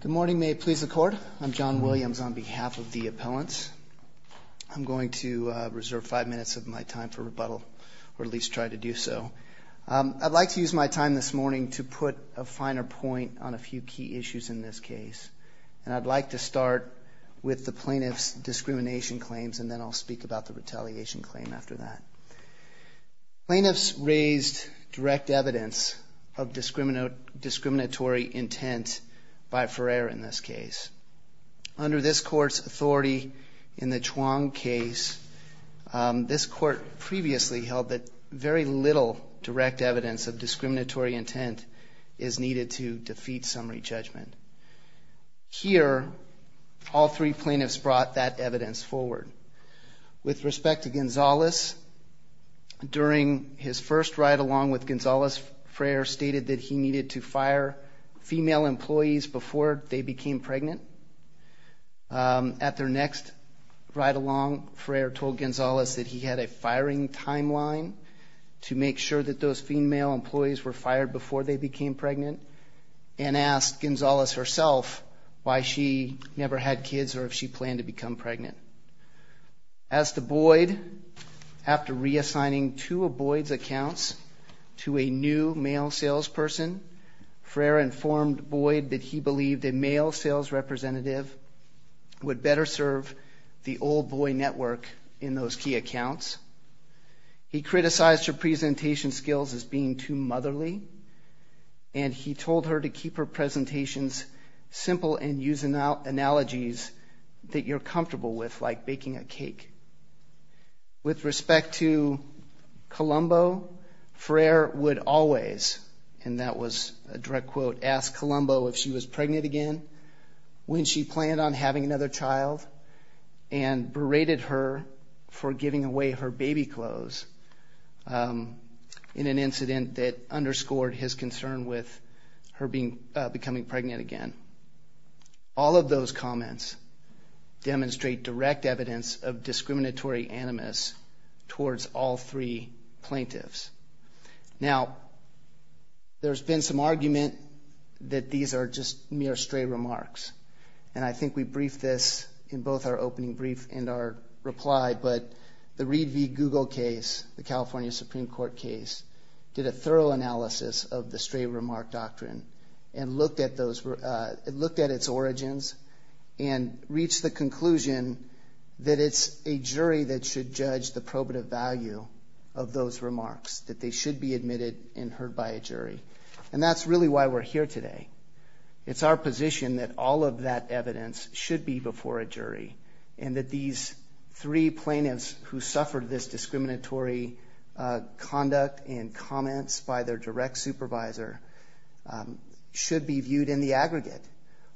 Good morning. May it please the court. I'm John Williams on behalf of the appellants. I'm going to reserve five minutes of my time for rebuttal, or at least try to do so. I'd like to use my time this morning to put a finer point on a few key issues in this case. And I'd like to start with the plaintiff's discrimination claims, and then I'll speak about the retaliation claim after that. Plaintiffs raised direct evidence of discriminatory intent by Ferrer in this case. Under this court's authority in the Chuang case, this court previously held that very little direct evidence of discriminatory intent is needed to defeat summary judgment. Here, all three plaintiffs brought that evidence forward. With respect to Gonzales, during his first ride-along with Gonzales, Ferrer stated that he needed to fire female employees before they became pregnant. At their next ride-along, Ferrer told Gonzales that he had a firing timeline to make sure that those female employees were fired before they became pregnant, and asked Gonzales herself why she never had kids or if she planned to become pregnant. As to Boyd, after reassigning two of Boyd's accounts to a new male salesperson, Ferrer informed Boyd that he believed a male sales representative would better serve the old boy network in those key accounts. He criticized her presentation skills as being too motherly, and he told her to keep her presentations simple and use analogies that you're comfortable with, like baking a cake. With respect to Colombo, Ferrer would always, and that was a direct quote, ask Colombo if she was pregnant again, when she planned on having another child, and berated her for giving away her baby clothes in an incident that underscored his concern with her becoming pregnant again. All of those comments demonstrate direct evidence of discriminatory animus towards all three plaintiffs. Now, there's been some argument that these are just mere stray remarks, and I think we briefed this in both our opening brief and our reply, but the Reed v. Google case, the California Supreme Court case, did a thorough analysis of the stray remark doctrine and looked at its origins and reached the conclusion that it's a jury that should judge the probative value of those remarks, that they should be admitted and heard by a jury, and that's really why we're here today. It's our position that all of that evidence should be before a jury, and that these three plaintiffs who suffered this discriminatory conduct and comments by their direct supervisor should be viewed in the aggregate.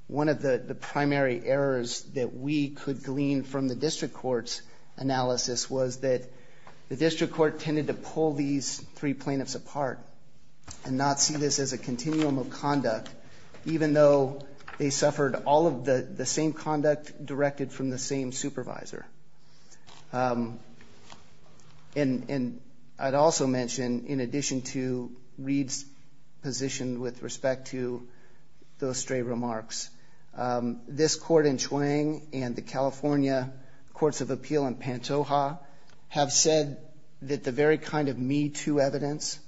One of the primary errors that we could glean from the district court's analysis was that the district court tended to pull these three plaintiffs apart and not see this as a continuum of conduct, even though they suffered all of the same conduct directed from the same supervisor. And I'd also mention, in addition to Reed's position with respect to those stray remarks, this court in Chuang and the California Courts of Appeal in Pantoja have said that the very kind of me-too evidence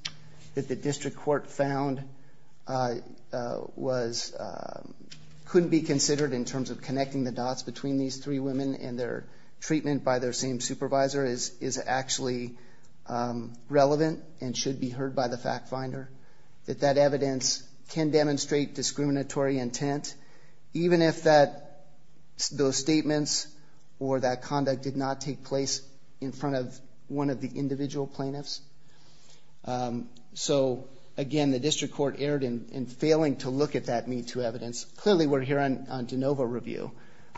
that the district court found couldn't be considered in terms of connecting the dots between these three women and their treatment by their same supervisor is actually relevant and should be heard by the fact finder, that that evidence can demonstrate discriminatory intent, even if those statements or that conduct did not take place in front of one of the individual plaintiffs. So, again, the district court erred in failing to look at that me-too evidence. Clearly, we're here on de novo review,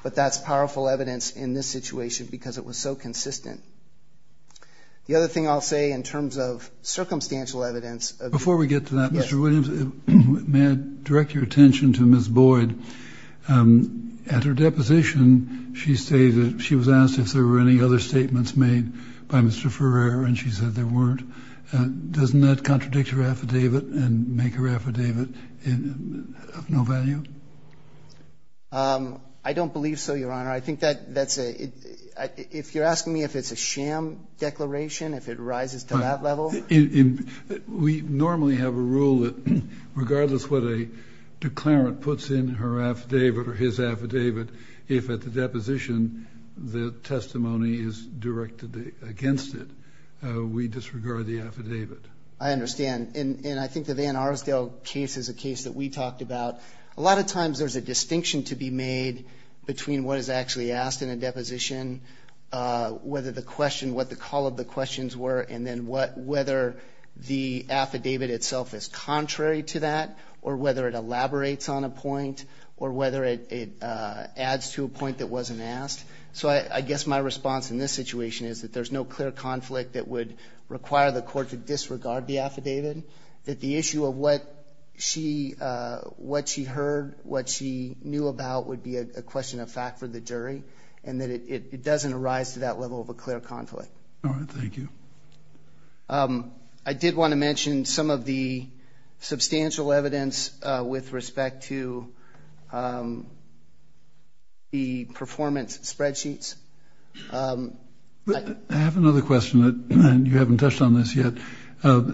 but that's powerful evidence in this situation because it was so consistent. The other thing I'll say in terms of circumstantial evidence. Before we get to that, Mr. Williams, may I direct your attention to Ms. Boyd? At her deposition, she was asked if there were any other statements made by Mr. Ferrer, and she said there weren't. Doesn't that contradict her affidavit and make her affidavit of no value? I don't believe so, Your Honor. I think that's a ‑‑ if you're asking me if it's a sham declaration, if it rises to that level. We normally have a rule that regardless what a declarant puts in her affidavit or his affidavit, if at the deposition the testimony is directed against it, we disregard the affidavit. I understand. And I think the Van Arsdale case is a case that we talked about. A lot of times there's a distinction to be made between what is actually asked in a deposition, whether the question, what the call of the questions were, and then whether the affidavit itself is contrary to that or whether it elaborates on a point or whether it adds to a point that wasn't asked. So I guess my response in this situation is that there's no clear conflict that would require the court to disregard the affidavit, that the issue of what she heard, what she knew about would be a question of fact for the jury, and that it doesn't arise to that level of a clear conflict. All right. Thank you. I did want to mention some of the substantial evidence with respect to the performance spreadsheets. I have another question, and you haven't touched on this yet.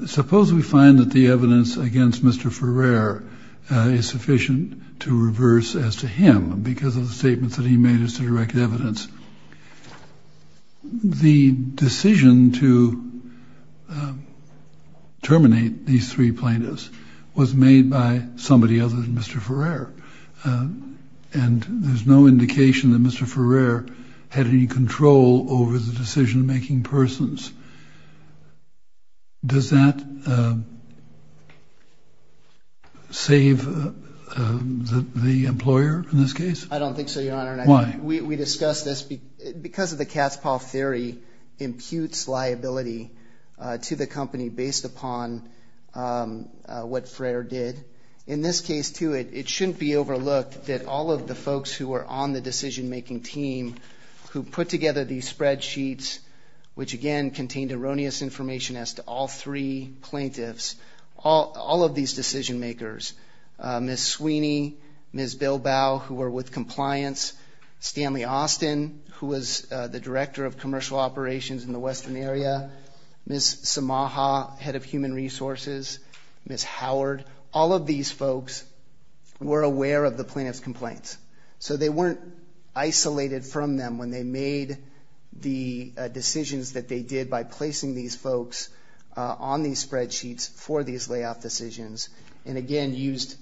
Suppose we find that the evidence against Mr. Ferrer is sufficient to reverse as to him because of the statements that he made as to direct evidence. The decision to terminate these three plaintiffs was made by somebody other than Mr. Ferrer, and there's no indication that Mr. Ferrer had any control over the decision-making persons. Does that save the employer in this case? I don't think so, Your Honor. Why? We discussed this because of the Katzpah theory imputes liability to the company based upon what Ferrer did. In this case, too, it shouldn't be overlooked that all of the folks who were on the decision-making team who put together these spreadsheets, which, again, contained erroneous information as to all three plaintiffs, all of these decision-makers, Ms. Sweeney, Ms. Bilbao, who were with compliance, Stanley Austin, who was the director of commercial operations in the western area, Ms. Samaha, head of human resources, Ms. Howard, all of these folks were aware of the plaintiff's complaints. So they weren't isolated from them when they made the decisions that they did by placing these folks on these spreadsheets for these layoff decisions and, again, used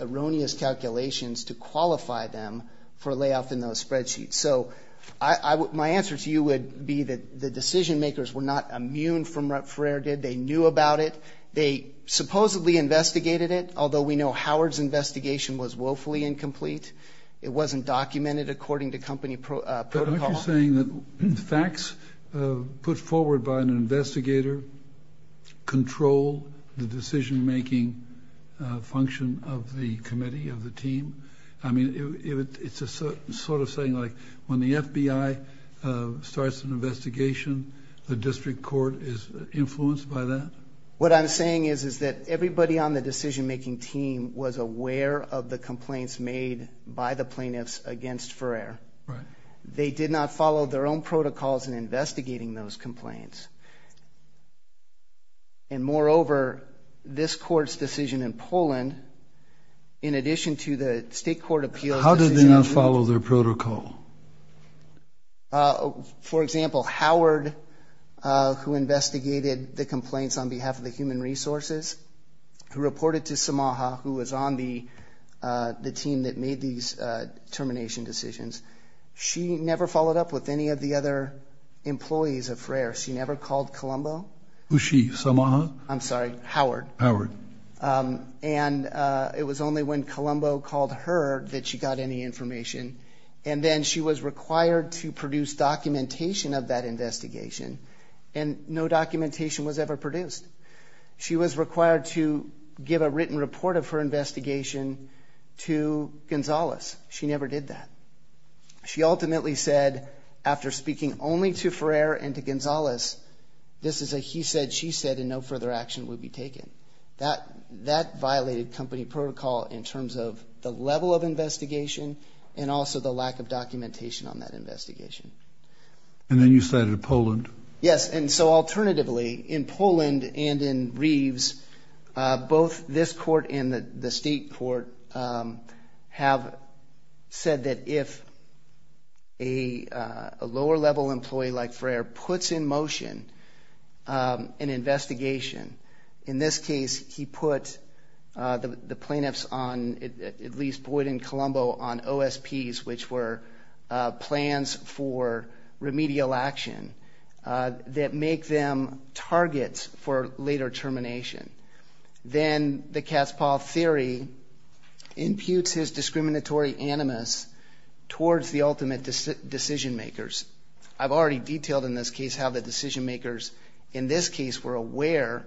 erroneous calculations to qualify them for layoff in those spreadsheets. So my answer to you would be that the decision-makers were not immune from what Ferrer did. They knew about it. They supposedly investigated it, although we know Howard's investigation was woefully incomplete. It wasn't documented according to company protocol. Aren't you saying that the facts put forward by an investigator control the decision-making function of the committee, of the team? I mean, it's sort of saying like when the FBI starts an investigation, the district court is influenced by that? What I'm saying is that everybody on the decision-making team was aware of the complaints made by the plaintiffs against Ferrer. Right. They did not follow their own protocols in investigating those complaints. And, moreover, this court's decision in Poland, in addition to the state court appeal. How did they not follow their protocol? For example, Howard, who investigated the complaints on behalf of the human resources, who reported to Samaha, who was on the team that made these termination decisions, she never followed up with any of the other employees of Ferrer. She never called Colombo. Who's she, Samaha? I'm sorry, Howard. Howard. And it was only when Colombo called her that she got any information. And then she was required to produce documentation of that investigation, and no documentation was ever produced. She was required to give a written report of her investigation to Gonzales. She never did that. She ultimately said, after speaking only to Ferrer and to Gonzales, this is a he said, she said, and no further action would be taken. That violated company protocol in terms of the level of investigation and also the lack of documentation on that investigation. And then you cited Poland. Yes, and so, alternatively, in Poland and in Reeves, both this court and the state court have said that if a lower level employee like Ferrer puts in motion an investigation, in this case he put the plaintiffs on, at least Boyd and Colombo, on OSPs, which were plans for remedial action that make them targets for later termination. Then the Kasparov theory imputes his discriminatory animus towards the ultimate decision makers. I've already detailed in this case how the decision makers in this case were aware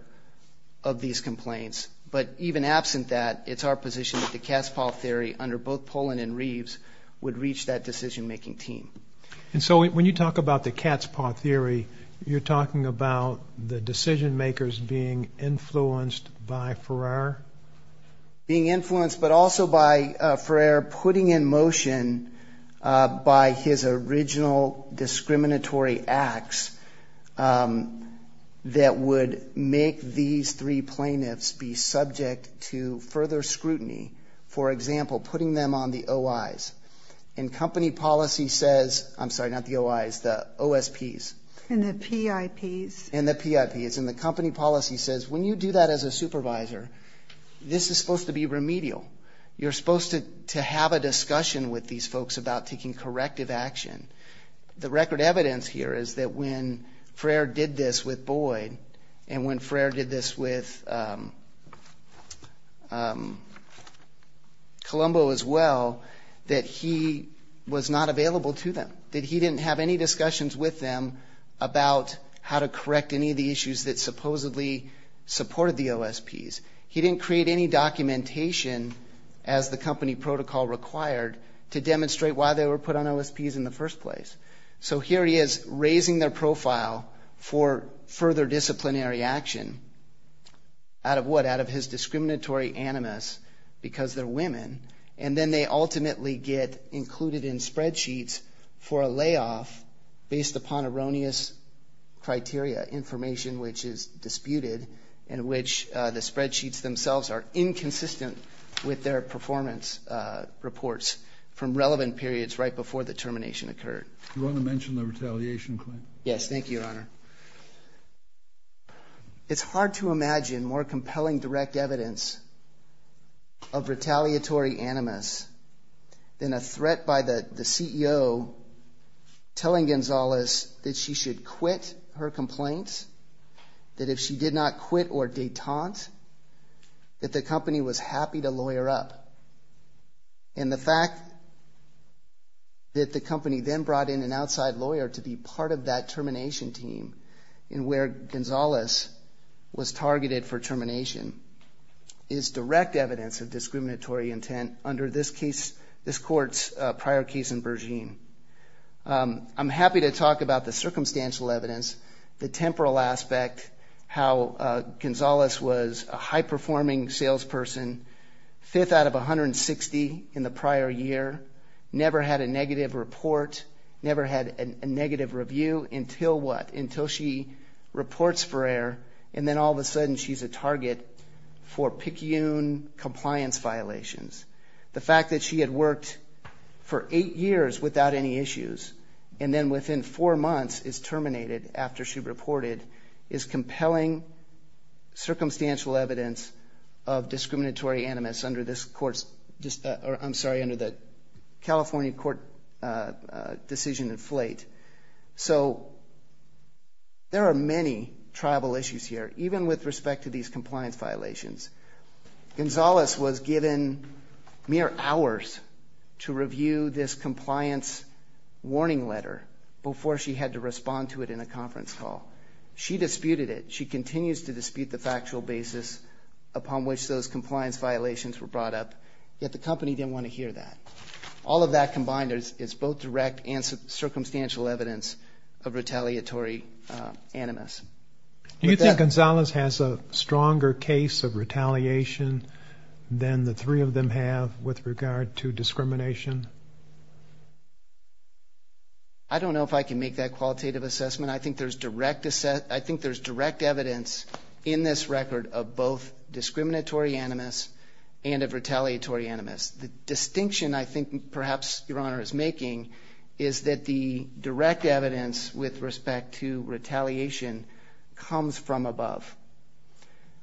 of these complaints. But even absent that, it's our position that the Kasparov theory, under both Poland and Reeves, would reach that decision making team. And so when you talk about the Kasparov theory, you're talking about the decision makers being influenced by Ferrer? Being influenced, but also by Ferrer putting in motion by his original discriminatory acts that would make these three plaintiffs be subject to further scrutiny. For example, putting them on the OIs. And company policy says, I'm sorry, not the OIs, the OSPs. And the PIPs. And the PIPs. And the company policy says when you do that as a supervisor, this is supposed to be remedial. You're supposed to have a discussion with these folks about taking corrective action. The record evidence here is that when Ferrer did this with Boyd, and when Ferrer did this with Colombo as well, that he was not available to them. That he didn't have any discussions with them about how to correct any of the issues that supposedly supported the OSPs. He didn't create any documentation as the company protocol required to demonstrate why they were put on OSPs in the first place. So here he is raising their profile for further disciplinary action. Out of what? Out of his discriminatory animus because they're women. And then they ultimately get included in spreadsheets for a layoff based upon erroneous criteria. Information which is disputed in which the spreadsheets themselves are inconsistent with their performance reports from relevant periods right before the termination occurred. Do you want to mention the retaliation claim? Yes, thank you, Your Honor. It's hard to imagine more compelling direct evidence of retaliatory animus than a threat by the CEO telling Gonzalez that she should quit her complaint. That if she did not quit or detente, that the company was happy to lawyer up. And the fact that the company then brought in an outside lawyer to be part of that termination team in where Gonzalez was targeted for termination is direct evidence of discriminatory intent under this case, this court's prior case in Bergen. I'm happy to talk about the circumstantial evidence, the temporal aspect, how Gonzalez was a high-performing salesperson, fifth out of 160 in the prior year, never had a negative report, never had a negative review until what? Until she reports for error and then all of a sudden she's a target for PICUN compliance violations. The fact that she had worked for eight years without any issues and then within four months is terminated after she reported is compelling circumstantial evidence of discriminatory animus under this court's, I'm sorry, under the California court decision in Flate. So there are many tribal issues here, even with respect to these compliance violations. Gonzalez was given mere hours to review this compliance warning letter before she had to respond to it in a conference call. She disputed it. She continues to dispute the factual basis upon which those compliance violations were brought up, yet the company didn't want to hear that. All of that combined is both direct and circumstantial evidence of retaliatory animus. Do you think Gonzalez has a stronger case of retaliation than the three of them have with regard to discrimination? I don't know if I can make that qualitative assessment. I think there's direct evidence in this record of both discriminatory animus and of retaliatory animus. The distinction I think perhaps Your Honor is making is that the direct evidence with respect to retaliation comes from above.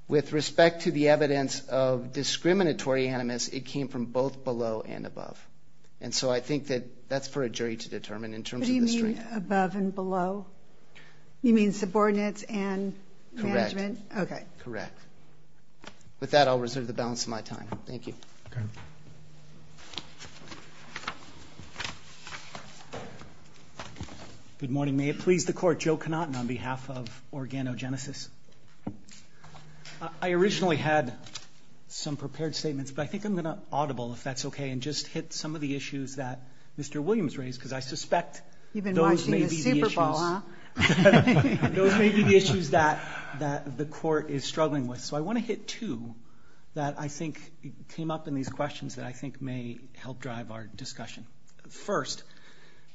With respect to the evidence of discriminatory animus, it came from both below and above. And so I think that that's for a jury to determine in terms of the strength. What do you mean above and below? You mean subordinates and management? Correct. Okay. Correct. With that, I'll reserve the balance of my time. Thank you. Okay. Good morning. May it please the Court, Joe Conant on behalf of Organogenesis. I originally had some prepared statements, but I think I'm going to audible if that's okay and just hit some of the issues that Mr. Williams raised because I suspect those may be the issues. You've been watching the Super Bowl, huh? Those may be the issues that the Court is struggling with. So I want to hit two that I think came up in these questions that I think may help drive our discussion. First,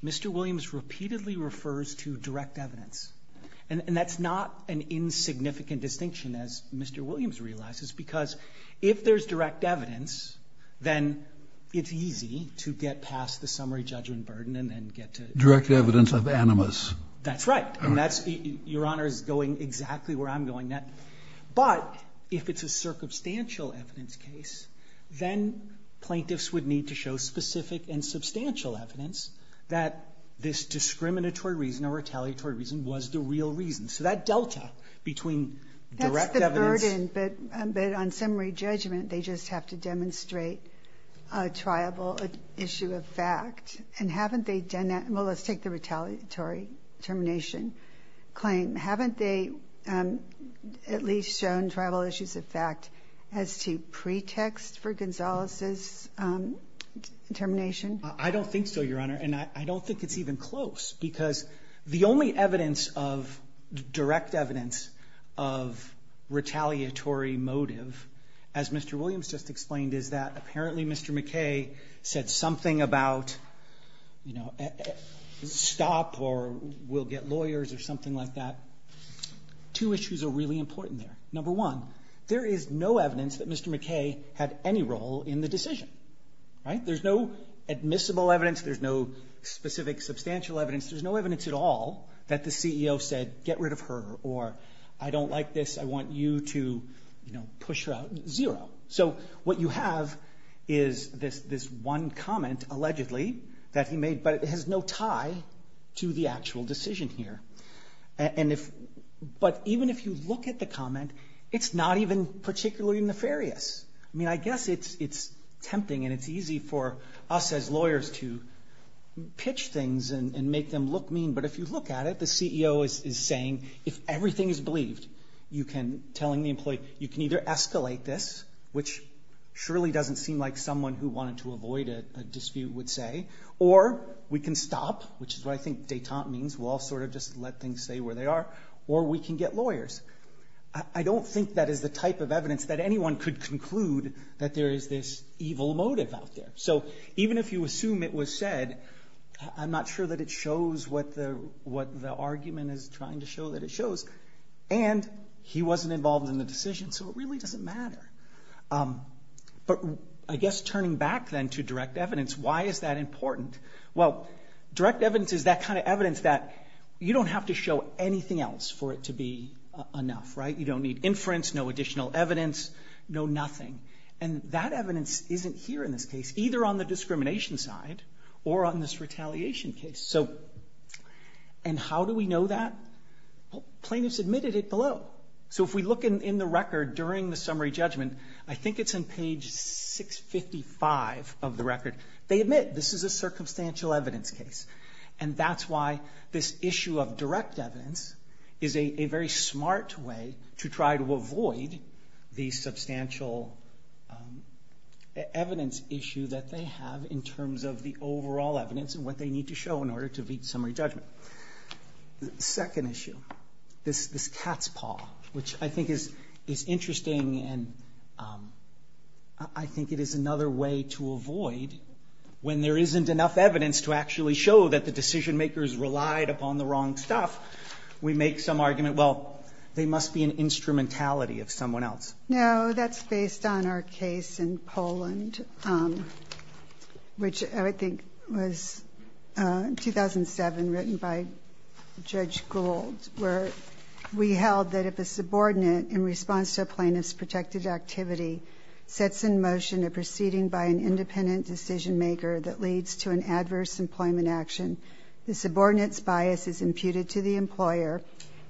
Mr. Williams repeatedly refers to direct evidence. And that's not an insignificant distinction, as Mr. Williams realizes, because if there's direct evidence, then it's easy to get past the summary judgment burden and then get to the... Direct evidence of animus. That's right. And Your Honor is going exactly where I'm going. But if it's a circumstantial evidence case, then plaintiffs would need to show specific and substantial evidence that this discriminatory reason or retaliatory reason was the real reason. So that delta between direct evidence... That's the burden. But on summary judgment, they just have to demonstrate a triable issue of fact. And haven't they done that? Well, let's take the retaliatory termination claim. Haven't they at least shown triable issues of fact as to pretext for Gonzalez's termination? I don't think so, Your Honor. And I don't think it's even close. Because the only evidence of direct evidence of retaliatory motive, as Mr. Williams just explained, is that apparently Mr. McKay said something about stop or we'll get lawyers or something like that. Two issues are really important there. Number one, there is no evidence that Mr. McKay had any role in the decision. Right? There's no admissible evidence. There's no specific substantial evidence. There's no evidence at all that the CEO said get rid of her or I don't like this. I want you to push her out. Zero. So what you have is this one comment allegedly that he made, but it has no tie to the actual decision here. But even if you look at the comment, it's not even particularly nefarious. I mean, I guess it's tempting and it's easy for us as lawyers to pitch things and make them look mean. But if you look at it, the CEO is saying if everything is believed, you can, telling the employee, you can either escalate this, which surely doesn't seem like someone who wanted to avoid a dispute would say, or we can stop, which is what I think detente means. We'll all sort of just let things stay where they are. Or we can get lawyers. I don't think that is the type of evidence that anyone could conclude that there is this evil motive out there. So even if you assume it was said, I'm not sure that it shows what the argument is trying to show that it shows. And he wasn't involved in the decision, so it really doesn't matter. But I guess turning back then to direct evidence, why is that important? Well, direct evidence is that kind of evidence that you don't have to show anything else for it to be enough, right? You don't need inference, no additional evidence, no nothing. And that evidence isn't here in this case, either on the discrimination side or on this retaliation case. So and how do we know that? Plaintiffs admitted it below. So if we look in the record during the summary judgment, I think it's on page 655 of the record. They admit this is a circumstantial evidence case. And that's why this issue of direct evidence is a very smart way to try to avoid the substantial evidence issue that they have in terms of the overall evidence and what they need to show in order to beat summary judgment. The second issue, this cat's paw, which I think is interesting. And I think it is another way to avoid when there isn't enough evidence to actually show that the decision makers relied upon the wrong stuff. We make some argument, well, they must be an instrumentality of someone else. No, that's based on our case in Poland, which I think was 2007, written by Judge Gould, where we held that if a subordinate, in response to a plaintiff's protected activity, sets in motion a proceeding by an independent decision maker that leads to an adverse employment action, the subordinate's bias is imputed to the employer.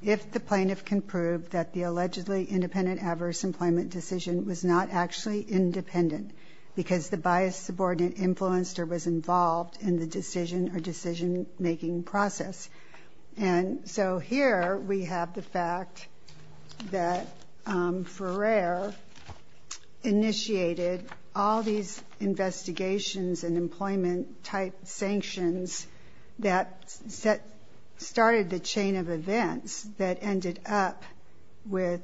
If the plaintiff can prove that the allegedly independent adverse employment decision was not actually independent because the biased subordinate influenced or was involved in the decision or decision-making process. And so here we have the fact that Ferrer initiated all these investigations and employment-type sanctions that started the chain of events that ended up with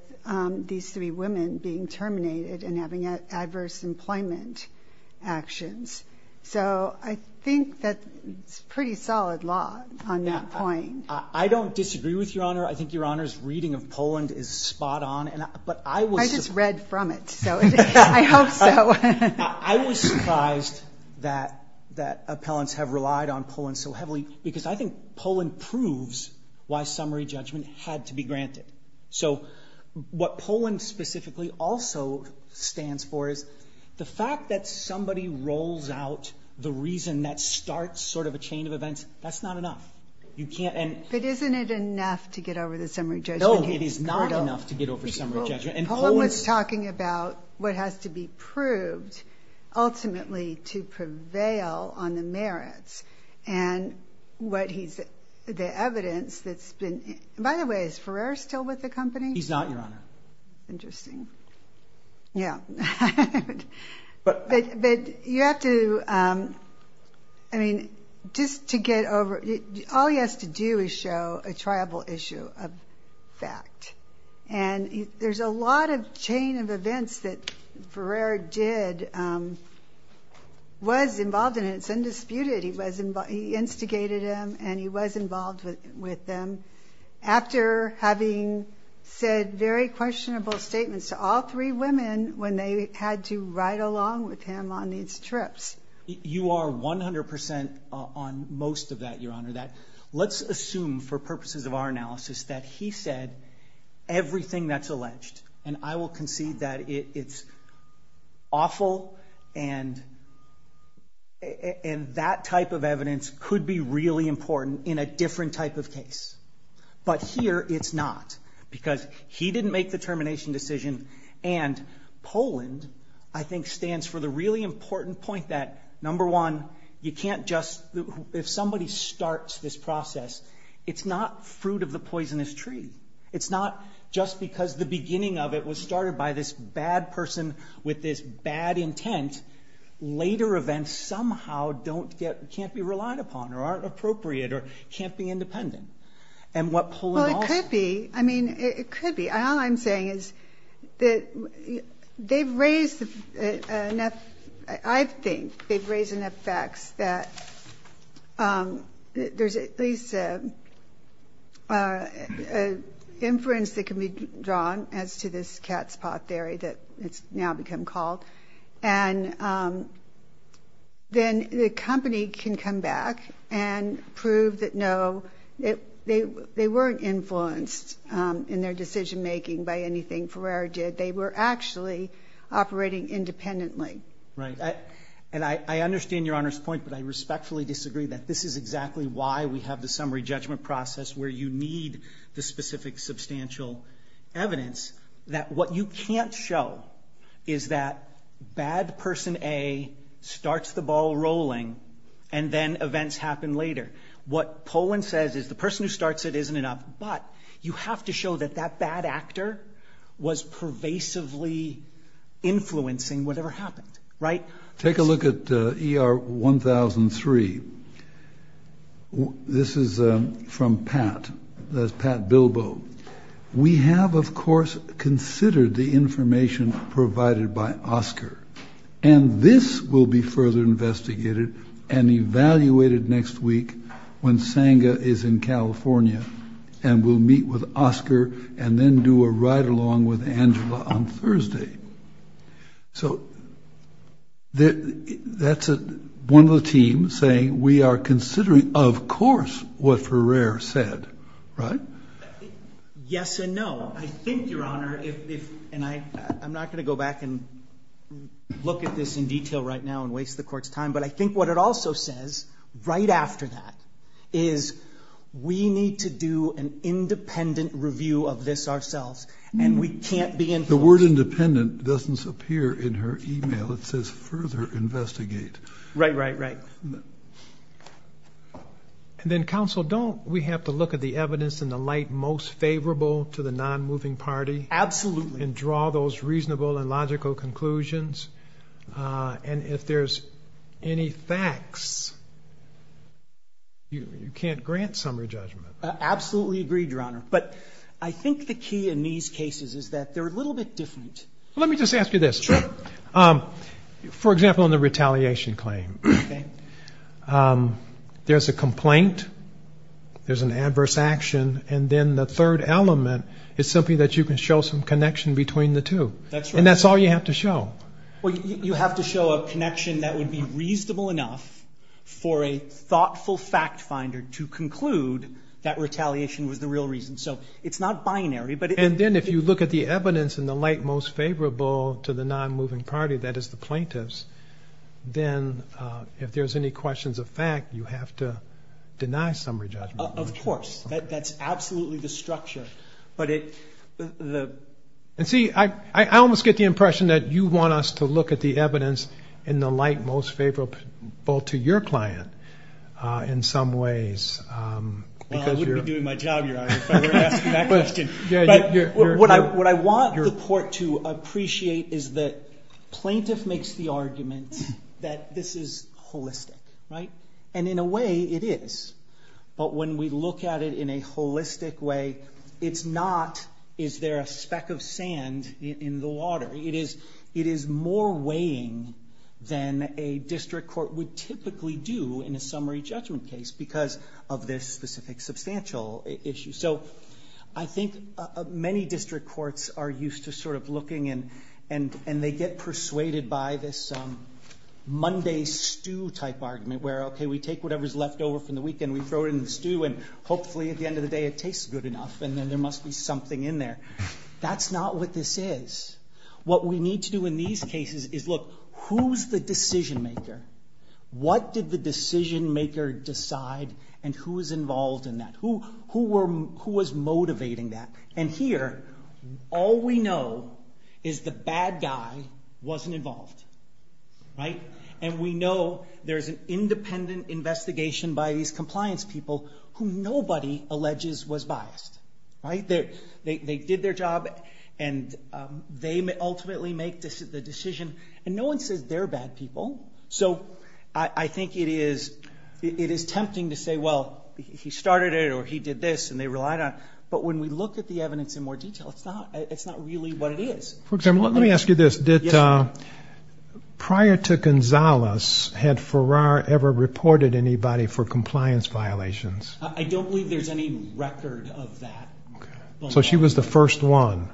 these three women being terminated and having adverse employment actions. So I think that's pretty solid law on that point. I don't disagree with Your Honor. I think Your Honor's reading of Poland is spot on. I just read from it, so I hope so. I was surprised that appellants have relied on Poland so heavily because I think Poland proves why summary judgment had to be granted. So what Poland specifically also stands for is the fact that somebody rolls out the reason that starts sort of a chain of events, that's not enough. But isn't it enough to get over the summary judgment? No, it is not enough to get over summary judgment. Poland was talking about what has to be proved ultimately to prevail on the merits and the evidence that's been—by the way, is Ferrer still with the company? He's not, Your Honor. Interesting. Yeah. But you have to—I mean, just to get over—all he has to do is show a triable issue of fact. And there's a lot of chain of events that Ferrer did, was involved in, and it's undisputed. He instigated them, and he was involved with them, after having said very questionable statements to all three women when they had to ride along with him on these trips. Let's assume for purposes of our analysis that he said everything that's alleged, and I will concede that it's awful, and that type of evidence could be really important in a different type of case. But here it's not, because he didn't make the termination decision, and Poland, I think, stands for the really important point that, number one, you can't just—if somebody starts this process, it's not fruit of the poisonous tree. It's not just because the beginning of it was started by this bad person with this bad intent, later events somehow don't get—can't be relied upon or aren't appropriate or can't be independent. And what Poland also— Well, it could be. I mean, it could be. All I'm saying is that they've raised enough— I think they've raised enough facts that there's at least an inference that can be drawn as to this cat's paw theory that it's now become called, and then the company can come back and prove that, no, they weren't influenced in their decision-making by anything Ferrer did. They were actually operating independently. Right. And I understand Your Honor's point, but I respectfully disagree that this is exactly why we have the summary judgment process where you need the specific substantial evidence, that what you can't show is that bad person A starts the ball rolling, and then events happen later. What Poland says is the person who starts it isn't enough, but you have to show that that bad actor was pervasively influencing whatever happened. Right? Take a look at ER 1003. This is from Pat. That's Pat Bilbo. We have, of course, considered the information provided by Oscar, and this will be further investigated and evaluated next week when Senga is in California and will meet with Oscar and then do a ride-along with Angela on Thursday. So that's one of the teams saying we are considering, of course, what Ferrer said. Right? Yes and no. I think, Your Honor, and I'm not going to go back and look at this in detail right now and waste the Court's time, but I think what it also says right after that is we need to do an independent review of this ourselves, and we can't be influenced. The word independent doesn't appear in her e-mail. It says further investigate. Right, right, right. And then, Counsel, don't we have to look at the evidence in the light most favorable to the non-moving party? Absolutely. And draw those reasonable and logical conclusions? And if there's any facts, you can't grant summary judgment. Absolutely agree, Your Honor. But I think the key in these cases is that they're a little bit different. Let me just ask you this. Sure. For example, in the retaliation claim. Okay. There's a complaint, there's an adverse action, and then the third element is simply that you can show some connection between the two. That's right. And that's all you have to show. Well, you have to show a connection that would be reasonable enough for a thoughtful fact finder to conclude that retaliation was the real reason. So it's not binary, but it is. And then if you look at the evidence in the light most favorable to the non-moving party, that is the plaintiffs, then if there's any questions of fact, you have to deny summary judgment. Of course. That's absolutely the structure. And see, I almost get the impression that you want us to look at the evidence in the light most favorable to your client in some ways. Well, I wouldn't be doing my job, Your Honor, if I were to ask you that question. What I want the court to appreciate is that plaintiff makes the argument that this is holistic, right? And in a way, it is. But when we look at it in a holistic way, it's not is there a speck of sand in the water. It is more weighing than a district court would typically do in a summary judgment case because of this specific substantial issue. So I think many district courts are used to sort of looking, and they get persuaded by this Monday stew-type argument where, okay, we take whatever's left over from the weekend, we throw it in the stew, and hopefully at the end of the day it tastes good enough, and then there must be something in there. That's not what this is. What we need to do in these cases is, look, who's the decision-maker? What did the decision-maker decide, and who was involved in that? Who was motivating that? And here, all we know is the bad guy wasn't involved, right? And we know there's an independent investigation by these compliance people who nobody alleges was biased, right? They did their job, and they ultimately make the decision, and no one says they're bad people. So I think it is tempting to say, well, he started it, or he did this, and they relied on it. But when we look at the evidence in more detail, it's not really what it is. Let me ask you this. Prior to Gonzales, had Farrar ever reported anybody for compliance violations? I don't believe there's any record of that. So she was the first one.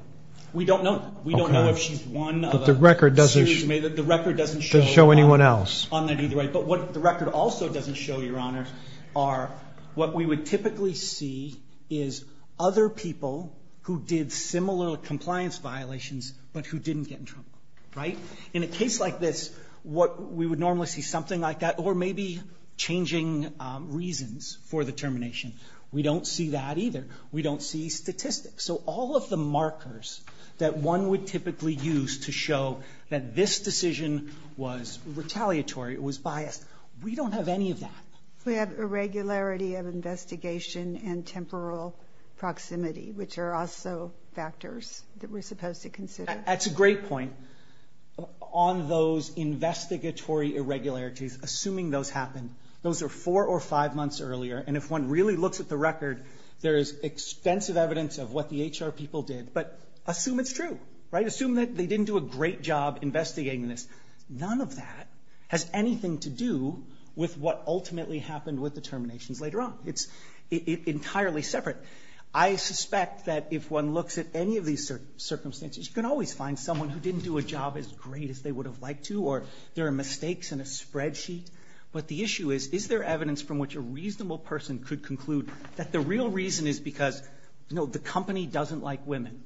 We don't know. We don't know if she's one of a series. Doesn't show anyone else. But what the record also doesn't show, Your Honor, are what we would typically see is other people who did similar compliance violations but who didn't get in trouble, right? In a case like this, we would normally see something like that, or maybe changing reasons for the termination. We don't see that either. We don't see statistics. So all of the markers that one would typically use to show that this decision was retaliatory, it was biased, we don't have any of that. We have irregularity of investigation and temporal proximity, which are also factors that we're supposed to consider. That's a great point. On those investigatory irregularities, assuming those happen, those are four or five months earlier, and if one really looks at the record, there is extensive evidence of what the HR people did. But assume it's true, right? Assume that they didn't do a great job investigating this. None of that has anything to do with what ultimately happened with the terminations later on. It's entirely separate. I suspect that if one looks at any of these circumstances, you can always find someone who didn't do a job as great as they would have liked to, or there are mistakes in a spreadsheet. But the issue is, is there evidence from which a reasonable person could conclude that the real reason is because, you know, the company doesn't like women.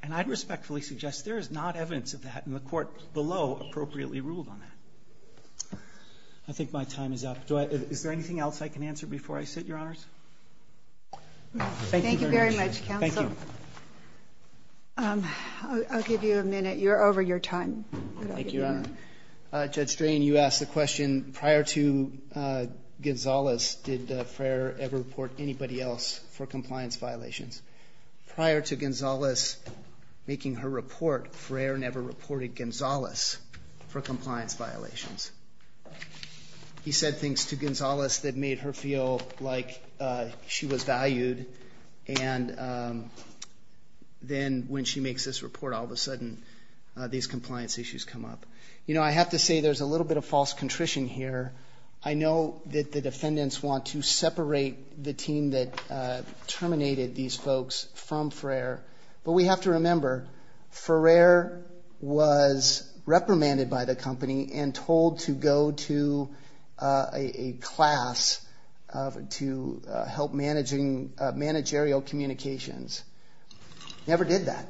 And I'd respectfully suggest there is not evidence of that, and the Court below appropriately ruled on that. I think my time is up. Is there anything else I can answer before I sit, Your Honors? Thank you very much. Thank you very much, counsel. Thank you. I'll give you a minute. You're over your time. Thank you, Your Honor. Judge Drain, you asked the question, prior to Gonzales, did Ferrer ever report anybody else for compliance violations? Prior to Gonzales making her report, Ferrer never reported Gonzales for compliance violations. He said things to Gonzales that made her feel like she was valued, and then when she makes this report, all of a sudden these compliance issues come up. You know, I have to say there's a little bit of false contrition here. I know that the defendants want to separate the team that terminated these folks from Ferrer, but we have to remember Ferrer was reprimanded by the company and told to go to a class to help manage aerial communications. Never did that.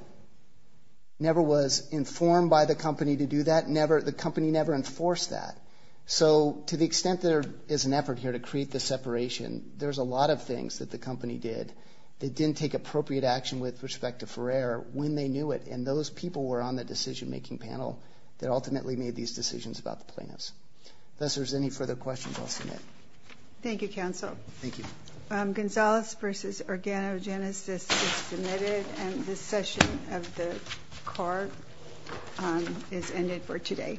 Never was informed by the company to do that. The company never enforced that. So to the extent there is an effort here to create the separation, there's a lot of things that the company did that didn't take appropriate action with respect to Ferrer when they knew it, and those people were on the decision-making panel that ultimately made these decisions about the plaintiffs. Unless there's any further questions, I'll submit. Thank you, Counsel. Thank you. Gonzales v. Organogenesis is submitted, and this session of the C.A.R. is ended for today. All rise.